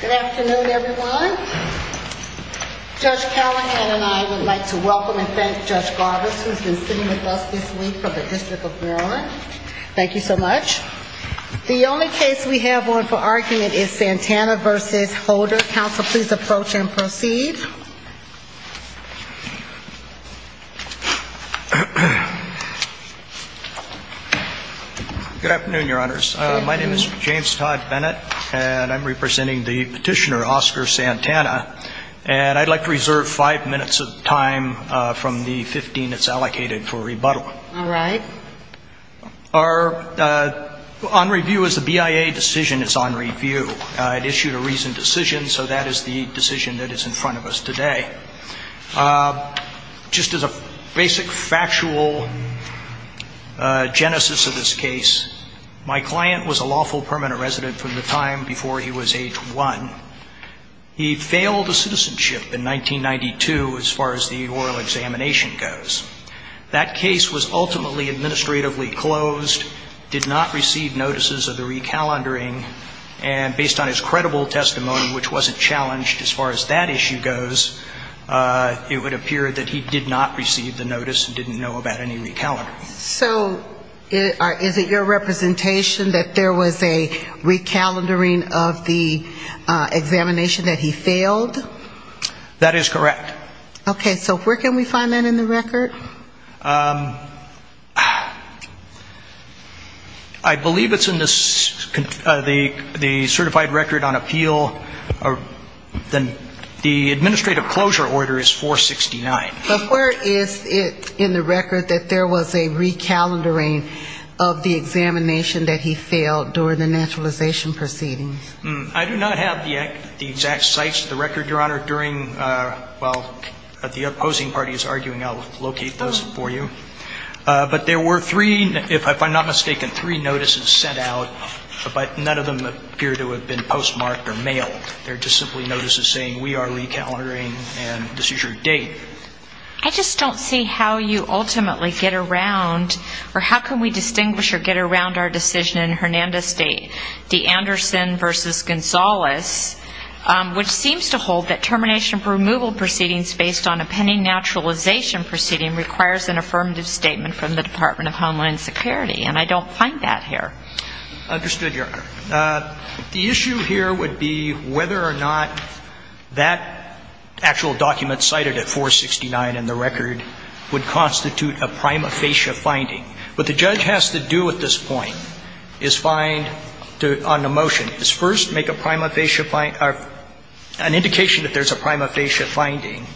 Good afternoon, everyone. Judge Callahan and I would like to welcome and thank Judge Garbus, who has been sitting with us this week from the District of Maryland. Thank you so much. The only case we have on for argument is Santana v. Holder. Counsel, please approach and proceed. Good afternoon, Your Honors. My name is James Todd Bennett, and I'm representing the petitioner Oscar Santana, and I'd like to reserve five minutes of time from the 15 that's allocated for rebuttal. All right. Our on-review is the BIA decision is on review. It issued a reasoned decision, so that is the decision that is in front of us today. Just as a basic factual genesis of this case, my client was a lawful permanent resident from the time before he was age 1. He failed a citizenship in 1992 as far as the oral examination goes. That case was ultimately administratively closed, did not receive notices of the recalendering, and based on his credible testimony, which wasn't challenged as far as that issue goes, it would appear that he did not receive the notice and didn't know about any recalendering. So is it your representation that there was a recalendering of the examination, that he failed? That is correct. Okay. So where can we find that in the record? I believe it's in the certified record on appeal. The administrative closure order is 469. But where is it in the record that there was a recalendering of the examination that he failed during the naturalization proceedings? I do not have the exact sites of the record, Your Honor, during, while the opposing party is arguing, I'll locate those for you. But there were three, if I'm not mistaken, three notices sent out, but none of them appear to have been postmarked or mailed. They're just simply notices saying we are recalendering and this is your date. I just don't see how you ultimately get around, or how can we distinguish or get around our decision in Hernandez State, DeAnderson v. Gonzales, which seems to hold that termination of removal proceedings based on a pending naturalization proceeding requires an affirmative statement from the Department of Homeland Security. And I don't find that here. Understood, Your Honor. The issue here would be whether or not that actual document cited at 469 in the record would constitute a prima facie finding. What the judge has to do at this point is find, on the motion, is first make a prima facie, an indication that there's a prima facie finding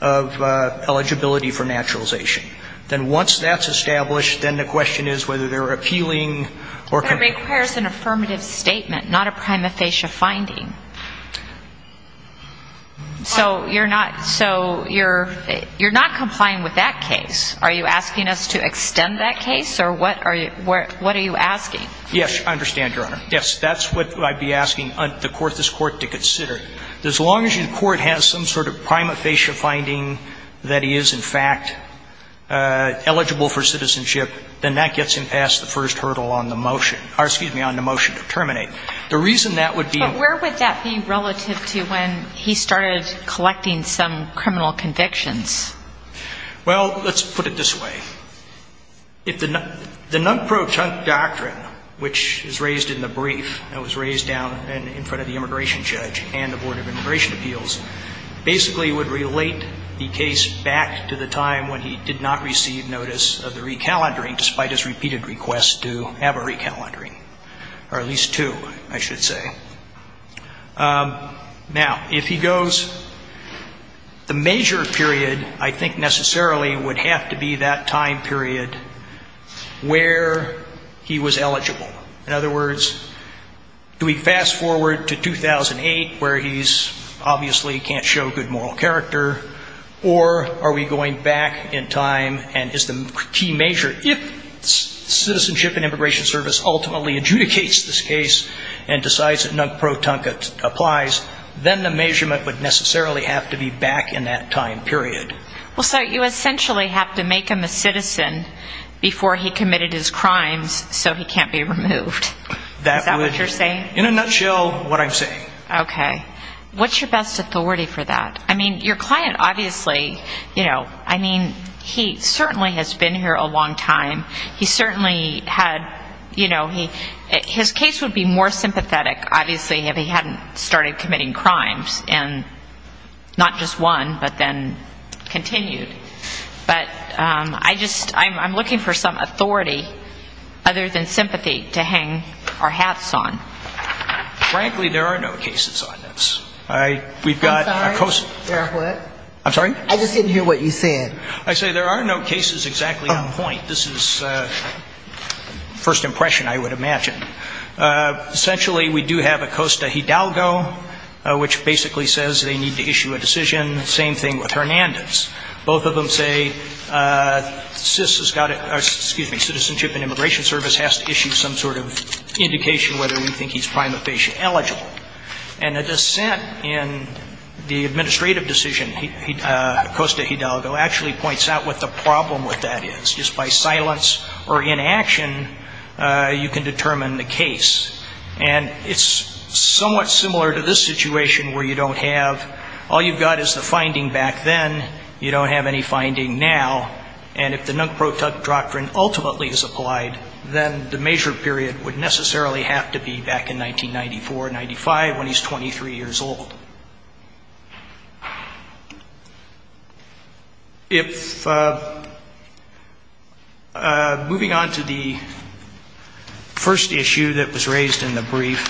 of eligibility for naturalization. Then once that's established, then the question is whether they're appealing or can be. But it requires an affirmative statement, not a prima facie finding. So you're not, so you're, you're not complying with that case. Are you asking us to extend that case, or what are you, what are you asking? Yes, I understand, Your Honor. Yes, that's what I'd be asking the court, this Court, to consider. As long as your court has some sort of prima facie finding that he is, in fact, eligible for citizenship, then that gets him past the first hurdle on the motion. Or, excuse me, on the motion to terminate. The reason that would be. But where would that be relative to when he started collecting some criminal convictions? Well, let's put it this way. If the non-protunct doctrine, which is raised in the brief that was raised down in front of the immigration judge and the Board of Immigration Appeals, basically would relate the case back to the time when he did not receive notice of the recalendering, despite his repeated requests to have a recalendering, or at least two, I should say. Now, if he goes, the major period I think necessarily would have to be that time period where he was eligible. In other words, do we fast forward to 2008, where he's obviously can't show good moral character, or are we going back in time and is the key measure, if Citizenship and Immigration Service ultimately adjudicates this case and decides that non-protunct applies, then the measurement would necessarily have to be back in that time period. Well, so you essentially have to make him a citizen before he committed his crimes so he can't be removed. Is that what you're saying? In a nutshell, what I'm saying. Okay. What's your best authority for that? I mean, your client obviously, you know, I mean, he certainly has been here a long time. He certainly had, you know, his case would be more sympathetic, obviously, if he hadn't started committing crimes, and not just one, but then continued. But I just, I'm looking for some authority other than sympathy to hang our hats on. Frankly, there are no cases on this. I'm sorry? I'm sorry? I just didn't hear what you said. I say there are no cases exactly on point. This is first impression, I would imagine. Essentially, we do have Acosta-Hidalgo, which basically says they need to issue a decision. Same thing with Hernandez. Both of them say CIS has got to, excuse me, Citizenship and Immigration Service has to issue some sort of indication whether we think he's prima facie eligible. And the dissent in the administrative decision, Acosta-Hidalgo, actually points out what the problem with that is. Just by silence or inaction, you can determine the case. And it's somewhat similar to this situation where you don't have, all you've got is the finding back then. You don't have any finding now. And if the Nunc Pro Toc doctrine ultimately is applied, then the measure period would necessarily have to be back in 1994-95 when he's 23 years old. If, moving on to the first issue that was raised in the brief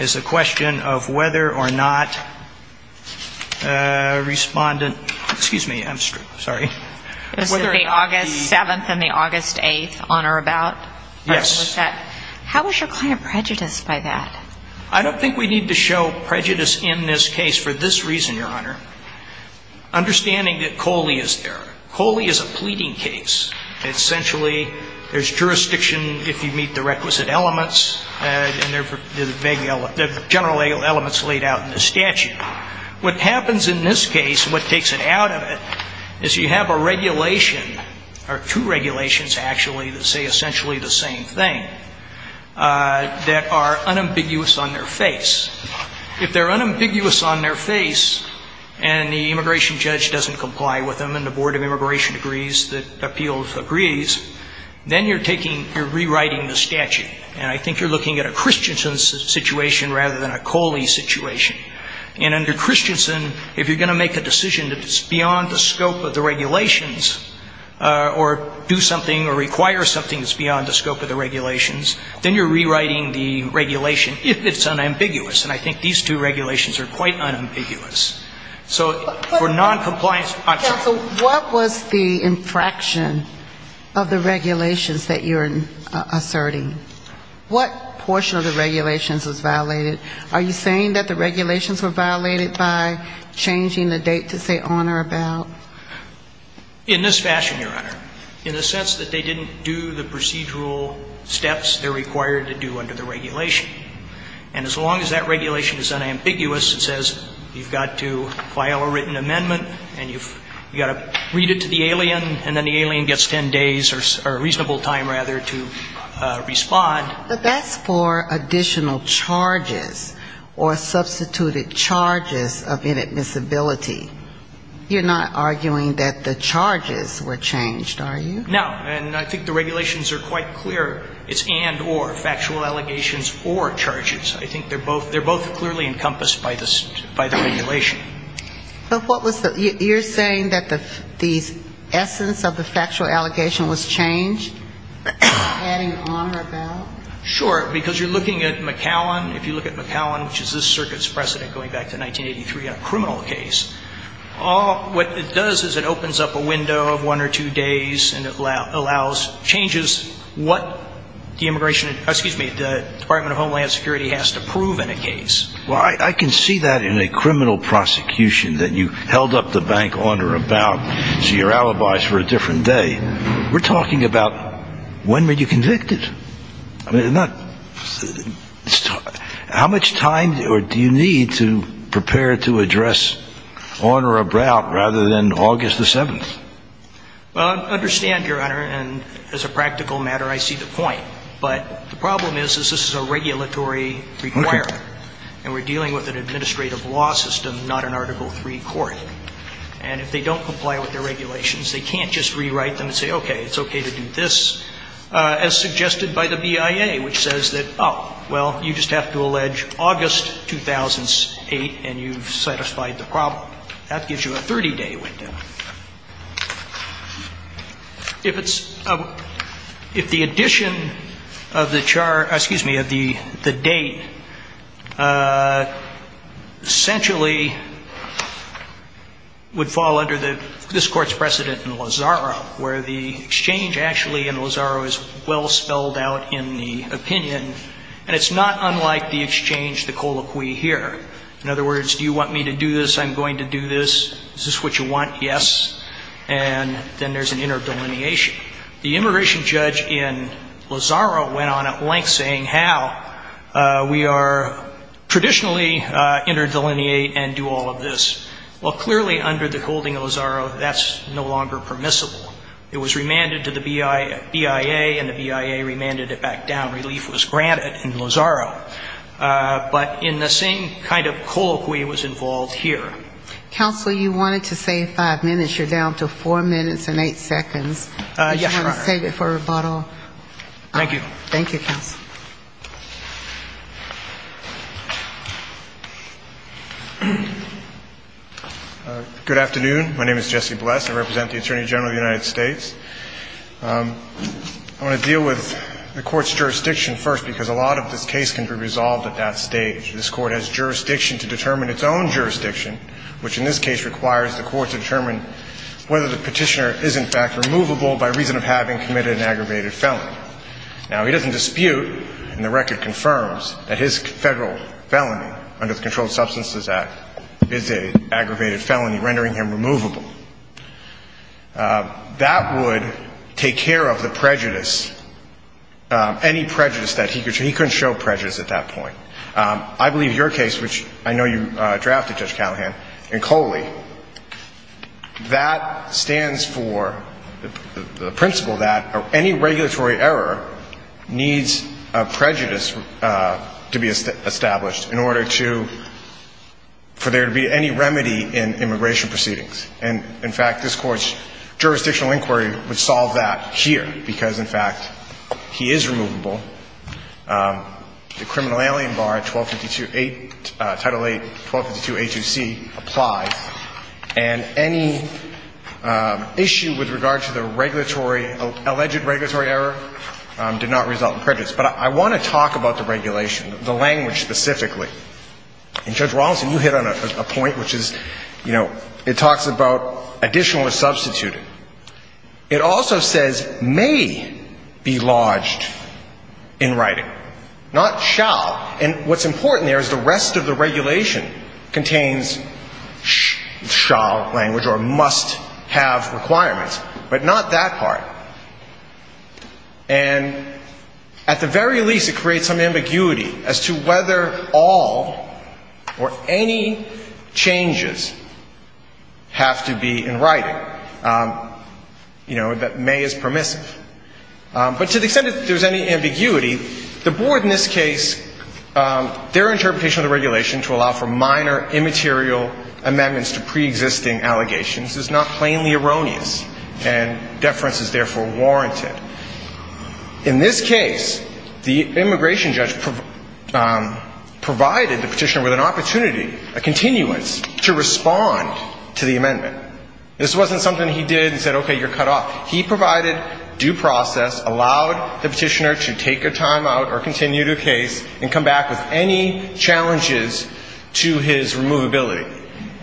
is a question of whether or not respondent, excuse me, I'm sorry. Yes. How was your client prejudiced by that? I don't think we need to show prejudice in this case for this reason, Your Honor. Understanding that Coley is there. Coley is a pleading case. Essentially, there's jurisdiction if you meet the requisite elements, and there are general elements laid out in the statute. What happens in this case, what takes it out of it, is you have a regulation or two regulations, actually, that say essentially the same thing that are unambiguous on their face. If they're unambiguous on their face and the immigration judge doesn't comply with them and the Board of Immigration agrees that appeals agrees, then you're taking, you're rewriting the statute. And I think you're looking at a Christensen situation rather than a Coley situation. And under Christensen, if you're going to make a decision that's beyond the scope of the regulations or do something or require something that's beyond the scope of the regulations, then you're rewriting the regulation if it's unambiguous. And I think these two regulations are quite unambiguous. So for noncompliance, I'm sorry. Counsel, what was the infraction of the regulations that you're asserting? What portion of the regulations was violated? Are you saying that the regulations were violated by changing the date to say on or about? In this fashion, Your Honor. In the sense that they didn't do the procedural steps they're required to do under the regulation. And as long as that regulation is unambiguous, it says you've got to file a written amendment and you've got to read it to the alien and then the alien gets ten days or a reasonable time, rather, to respond. But that's for additional charges or substituted charges of inadmissibility. You're not arguing that the charges were changed, are you? No. And I think the regulations are quite clear. It's and or, factual allegations or charges. I think they're both clearly encompassed by the regulation. But what was the you're saying that the essence of the factual allegation was changed? Adding on or about? Sure. Because you're looking at McAllen. If you look at McAllen, which is this circuit's precedent going back to 1983, a criminal case, what it does is it opens up a window of one or two days and it allows changes what the immigration, excuse me, the Department of Homeland Security has to prove in a case. Well, I can see that in a criminal prosecution that you held up the bank on or about so you're alibis for a different day. We're talking about when were you convicted? How much time do you need to prepare to address on or about rather than August the 7th? Well, I understand, Your Honor. And as a practical matter, I see the point. But the problem is this is a regulatory requirement. And we're dealing with an administrative law system, not an Article III court. And if they don't comply with the regulations, they can't just rewrite them and say, okay, it's okay to do this. As suggested by the BIA, which says that, oh, well, you just have to allege August 2008 and you've satisfied the problem. That gives you a 30-day window. If it's, if the addition of the chart, excuse me, of the date essentially would fall under this Court's precedent in Lozaro, where the exchange actually in Lozaro is well spelled out in the opinion. And it's not unlike the exchange, the colloquy here. In other words, do you want me to do this? I'm going to do this. Is this what you want? Yes. And then there's an interdelineation. The immigration judge in Lozaro went on at length saying how we are traditionally interdelineate and do all of this. Well, clearly under the holding of Lozaro, that's no longer permissible. It was remanded to the BIA, and the BIA remanded it back down. Relief was granted in Lozaro. But in the same kind of colloquy was involved here. Counsel, you wanted to save five minutes. You're down to four minutes and eight seconds. Yes, Your Honor. If you want to save it for rebuttal. Thank you. Thank you, Counsel. Good afternoon. My name is Jesse Bless. I represent the Attorney General of the United States. I want to deal with the Court's jurisdiction first because a lot of this case can be resolved at that stage. This Court has jurisdiction to determine its own jurisdiction, which in this case requires the Court to determine whether the petitioner is, in fact, removable by reason of having committed an aggravated felony. Now, he doesn't dispute, and the record confirms, that his Federal felony under the Controlled Substances Act is an aggravated felony, rendering him removable. That would take care of the prejudice, any prejudice that he could show. He couldn't show prejudice at that point. I believe your case, which I know you drafted, Judge Callahan, and Coley, that stands for the principle that any regulatory error needs a prejudice to be established in order to, for there to be any remedy in immigration proceedings. And, in fact, this Court's jurisdictional inquiry would solve that here because, in fact, he is removable. The criminal alien bar 1252A, Title VIII, 1252A2C applies. And any issue with regard to the regulatory, alleged regulatory error did not result in prejudice. But I want to talk about the regulation, the language specifically. And, Judge Rawlinson, you hit on a point, which is, you know, it talks about additional or substituted. It also says may be lodged in writing, not shall. And what's important there is the rest of the regulation contains shall language or must have requirements, but not that part. And at the very least, it creates some ambiguity as to whether all or any changes have to be in writing. You know, that may is permissive. But to the extent that there's any ambiguity, the Board in this case, their interpretation of the regulation to allow for minor immaterial amendments to preexisting allegations is not plainly erroneous, and deference is therefore warranted. In this case, the immigration judge provided the Petitioner with an opportunity, a continuance, to respond to the amendment. This wasn't something he did and said, okay, you're cut off. He provided due process, allowed the Petitioner to take a timeout or continue the case and come back with any challenges to his removability.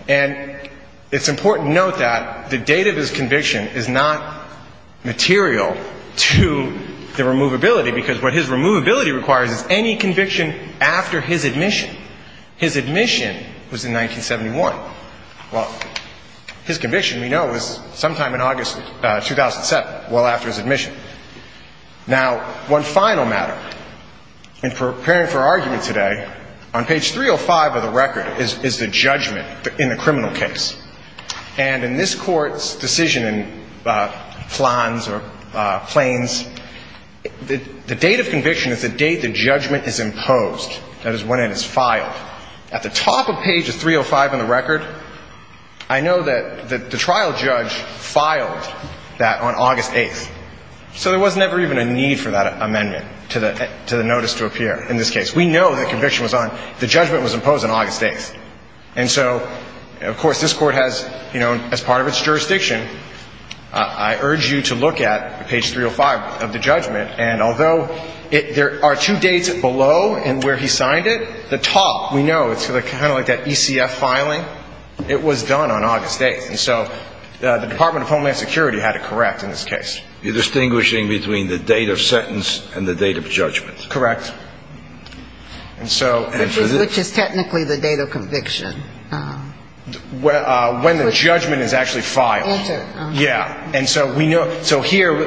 And it's important to note that the date of his conviction is not material to the removability, because what his removability requires is any conviction after his admission. His admission was in 1971. Well, his conviction, we know, was sometime in August 2007, well after his admission. Now, one final matter. In preparing for argument today, on page 305 of the record is the judgment in the criminal case. And in this Court's decision in Flans or Plains, the date of conviction is the date the judgment is imposed. That is when it is filed. At the top of page 305 in the record, I know that the trial judge filed that on August 8th. So there was never even a need for that amendment to the notice to appear in this case. We know the conviction was on the judgment was imposed on August 8th. And so, of course, this Court has, you know, as part of its jurisdiction, I urge you to look at page 305 of the judgment. And although there are two dates below and where he signed it, the top, we know, it's kind of like that ECF filing. It was done on August 8th. And so the Department of Homeland Security had it correct in this case. You're distinguishing between the date of sentence and the date of judgment. Correct. And so this is the date of conviction. When the judgment is actually filed. Enter. Yeah. And so we know. So here,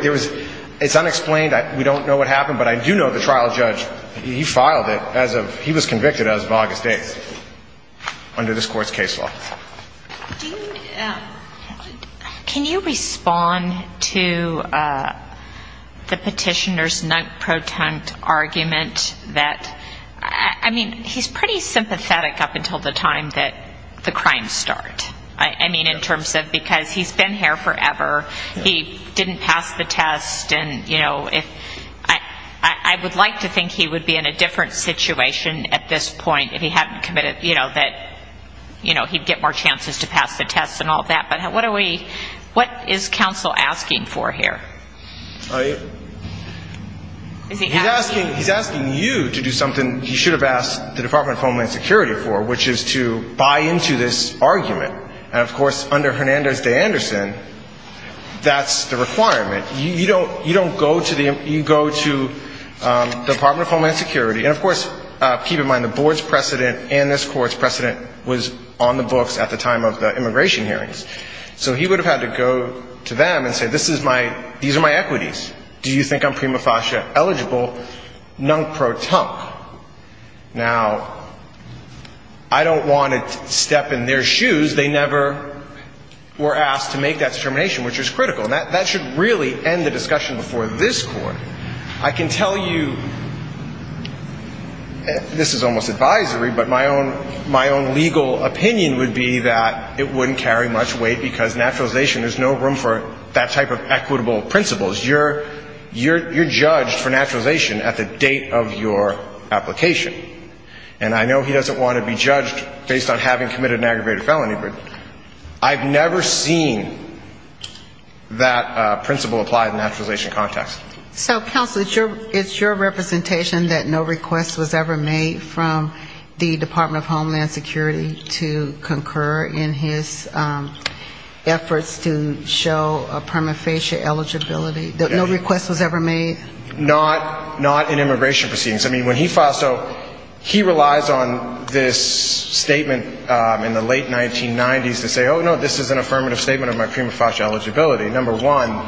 it's unexplained. We don't know what happened. But I do know the trial judge, he filed it as of he was convicted as of August 8th under this Court's case law. Can you respond to the petitioner's non-proton argument that, I mean, he's pretty sympathetic up until the time that the crimes start. I mean, in terms of because he's been here forever. He didn't pass the test. And, you know, I would like to think he would be in a different situation at this point if he hadn't committed, you know, that, you know, he'd get more chances to pass the test and all that. But what are we, what is counsel asking for here? He's asking you to do something he should have asked the Department of Homeland Security for, which is to buy into this argument. And, of course, under Hernandez v. Anderson, that's the requirement. You don't go to the, you go to the Department of Homeland Security. And, of course, keep in mind the Board's precedent and this Court's precedent was on the books at the time of the immigration hearings. So he would have had to go to them and say, this is my, these are my equities. Do you think I'm prima facie eligible? Non-proton. Now, I don't want to step in their shoes. They never were asked to make that determination, which is critical. And that should really end the discussion before this Court. I can tell you, this is almost advisory, but my own legal opinion would be that it wouldn't carry much weight because naturalization, there's no room for that type of equitable principles. You're judged for naturalization at the date of your application. And I know he doesn't want to be judged based on having committed an aggravated felony, but I've never seen that principle applied in a naturalization context. So, counsel, it's your representation that no request was ever made from the Department of Homeland Security to concur in his efforts to show a prima facie eligibility. No request was ever made? Not in immigration proceedings. I mean, when he filed, so he relies on this statement in the late 1990s to say, oh, no, this is an affirmative statement of my prima facie eligibility. Number one,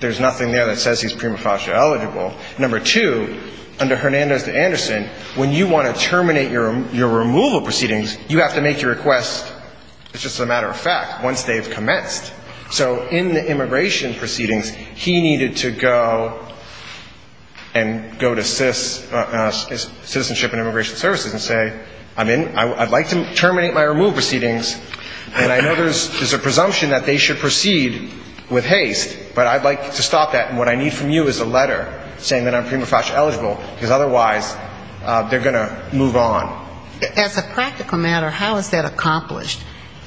there's nothing there that says he's prima facie eligible. Number two, under Hernandez v. Anderson, when you want to terminate your removal proceedings, you have to make your request, as a matter of fact, once they've commenced. So in the immigration proceedings, he needed to go and go to citizenship and immigration services and say, I'd like to terminate my removal proceedings, and I know there's a presumption that they should proceed with haste, but I'd like to stop that, and what I need from you is a letter saying that I'm prima facie eligible, because otherwise they're going to move on. As a practical matter, how is that accomplished?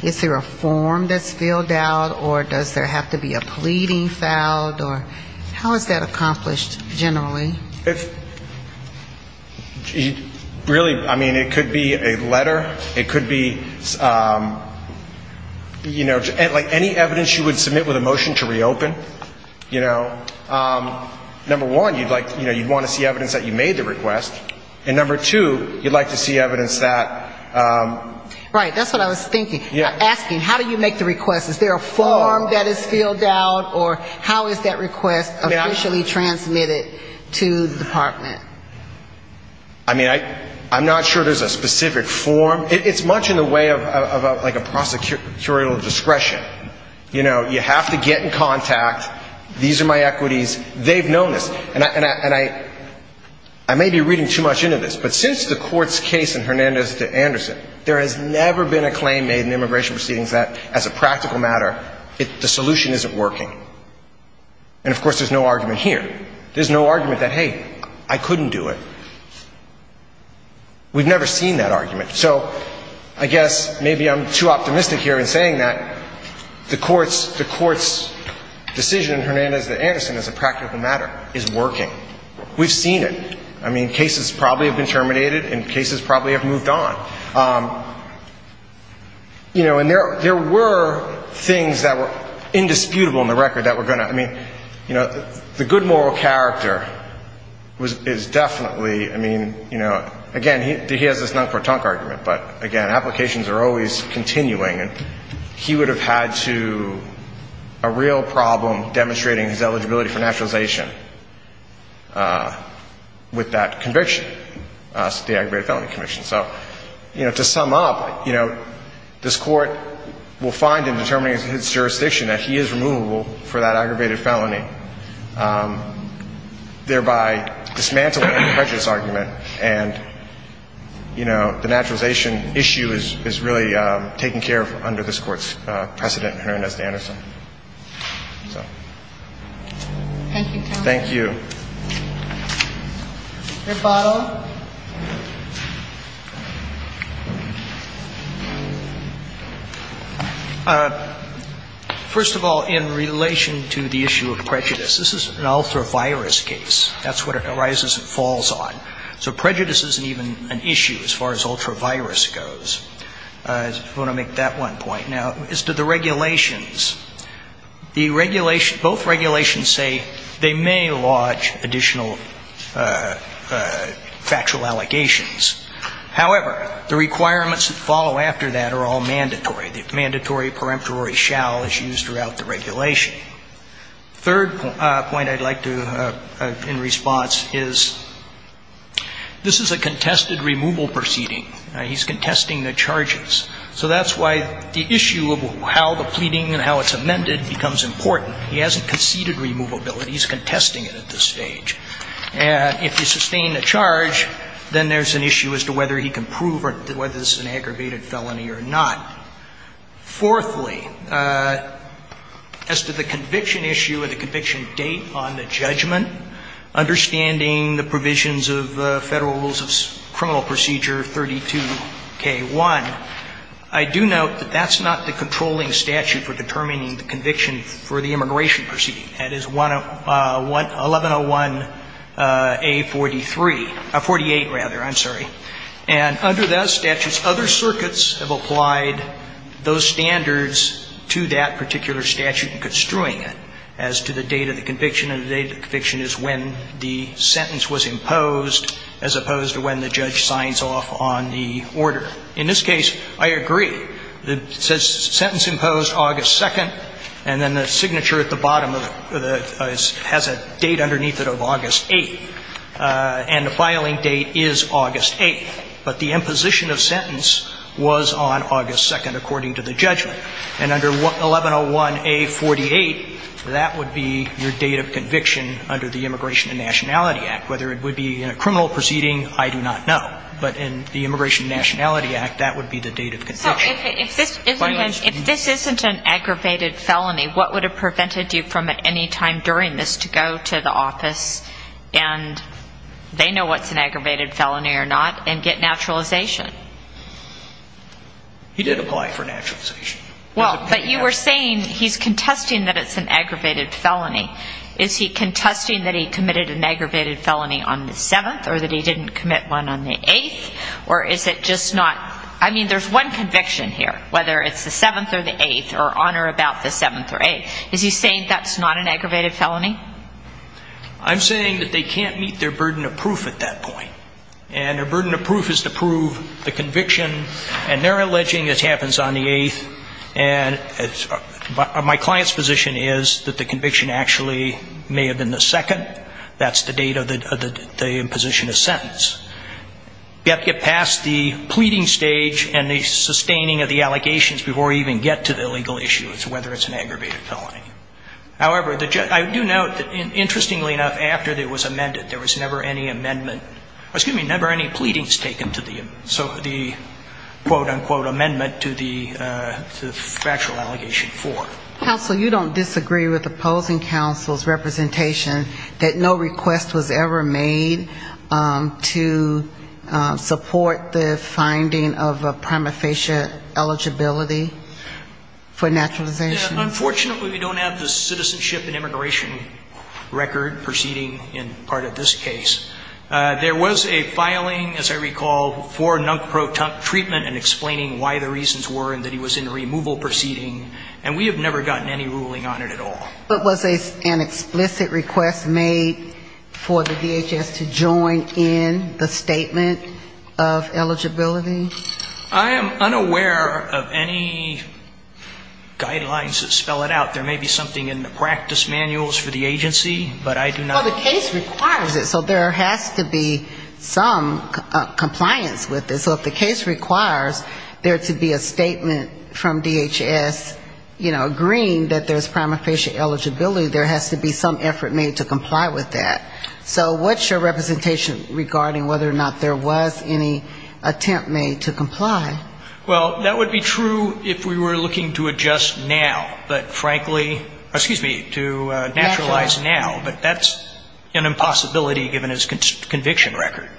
Is there a form that's filled out, or does there have to be a pleading filed? How is that accomplished generally? Really, I mean, it could be a letter. It could be, you know, like any evidence you would submit with a motion to reopen, you know. Number one, you'd like, you know, you'd want to see evidence that you made the request. And number two, you'd like to see evidence that. Right, that's what I was thinking. Asking, how do you make the request? Is there a form that is filled out, or how is that request officially transmitted to the department? I mean, I'm not sure there's a specific form. It's much in the way of, like, a prosecutorial discretion. You know, you have to get in contact. These are my equities. They've known this. And I may be reading too much into this, but since the Court's case in Hernandez v. Anderson, there has never been a claim made in immigration proceedings that, as a practical matter, the solution isn't working. And, of course, there's no argument here. There's no argument that, hey, I couldn't do it. We've never seen that argument. So I guess maybe I'm too optimistic here in saying that the Court's decision in Hernandez v. Anderson as a practical matter is working. We've seen it. I mean, cases probably have been terminated, and cases probably have moved on. You know, and there were things that were indisputable in the record that were going to ‑‑ I mean, you know, the good moral character is definitely, I mean, you know, again, he has this noncortante argument. But, again, applications are always continuing. And he would have had to ‑‑ a real problem demonstrating his eligibility for naturalization with that conviction, the aggravated felony conviction. So, you know, to sum up, you know, this Court will find in determining his jurisdiction that he is removable for that aggravated felony, thereby dismantling the prejudice argument. And, you know, the naturalization issue is really taken care of under this Court's precedent in Hernandez v. Anderson. So. Thank you, counsel. Thank you. Rebuttal. First of all, in relation to the issue of prejudice, this is an ultra‑virus case. That's what it arises and falls on. So prejudice isn't even an issue as far as ultra‑virus goes. I want to make that one point. Now, as to the regulations, both regulations say they may lodge additional factual allegations. However, the requirements that follow after that are all mandatory. The mandatory peremptory shall is used throughout the regulation. Third point I'd like to, in response, is this is a contested removal proceeding. He's contesting the charges. So that's why the issue of how the pleading and how it's amended becomes important. He hasn't conceded removability. He's contesting it at this stage. And if you sustain the charge, then there's an issue as to whether he can prove whether this is an aggravated felony or not. Fourthly, as to the conviction issue or the conviction date on the judgment, understanding the provisions of Federal Rules of Criminal Procedure 32K1, I do note that that's not the controlling statute for determining the conviction for the immigration proceeding. That is 1101A43 ‑‑ 48, rather. I'm sorry. And under that statute, other circuits have applied those standards to that particular statute in construing it as to the date of the conviction. And the date of the conviction is when the sentence was imposed as opposed to when the judge signs off on the order. In this case, I agree. It says sentence imposed August 2nd. And then the signature at the bottom has a date underneath it of August 8th. And the filing date is August 8th. But the imposition of sentence was on August 2nd, according to the judgment. And under 1101A48, that would be your date of conviction under the Immigration and Nationality Act. Whether it would be in a criminal proceeding, I do not know. But in the Immigration and Nationality Act, that would be the date of conviction. If this isn't an aggravated felony, what would have prevented you from at any time during this to go to the office and they know what's an aggravated felony or not and get naturalization? He did apply for naturalization. Well, but you were saying he's contesting that it's an aggravated felony. Is he contesting that he committed an aggravated felony on the 7th or that he didn't commit one on the 8th? Or is it just not ‑‑ I mean, there's one conviction here, whether it's the 7th or the 8th or on or about the 7th or 8th. Is he saying that's not an aggravated felony? I'm saying that they can't meet their burden of proof at that point. And their burden of proof is to prove the conviction. And they're alleging it happens on the 8th. And my client's position is that the conviction actually may have been the 2nd. That's the date of the imposition of sentence. You have to get past the pleading stage and the sustaining of the allegations before you even get to the legal issue as to whether it's an aggravated felony. However, I do note that, interestingly enough, after it was amended, there was never any amendment ‑‑ excuse me, never any pleadings taken to the quote‑unquote amendment to the factual allegation 4. Counsel, you don't disagree with opposing counsel's representation that no request was ever made to support the finding of a prima facie eligibility for naturalization? Unfortunately, we don't have the citizenship and immigration record proceeding in part of this case. There was a filing, as I recall, for NUNCPRO treatment and explaining why the reasons were and that he was in a removal proceeding. And we have never gotten any ruling on it at all. But was an explicit request made for the DHS to join in the statement of eligibility? I am unaware of any guidelines that spell it out. There may be something in the practice manuals for the agency. But I do not ‑‑ Well, the case requires it. So there has to be some compliance with it. So if the case requires there to be a statement from DHS, you know, agreeing that there's prima facie eligibility, there has to be some effort made to comply with that. So what's your representation regarding whether or not there was any attempt made to comply? Well, that would be true if we were looking to adjust now. But frankly, excuse me, to naturalize now. But that's an impossibility given his conviction record.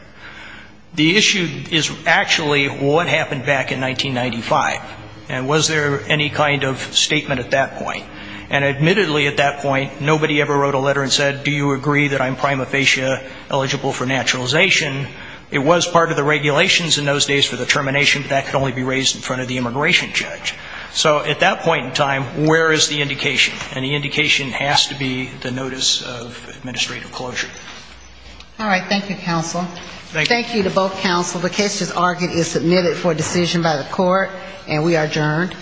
The issue is actually what happened back in 1995. And was there any kind of statement at that point? And admittedly at that point, nobody ever wrote a letter and said, do you agree that I'm prima facie eligible for naturalization? It was part of the regulations in those days for the termination, but that could only be raised in front of the immigration judge. So at that point in time, where is the indication? And the indication has to be the notice of administrative closure. All right. Thank you, counsel. Thank you. Thank you to both counsel. The case as argued is submitted for decision by the court. And we are adjourned.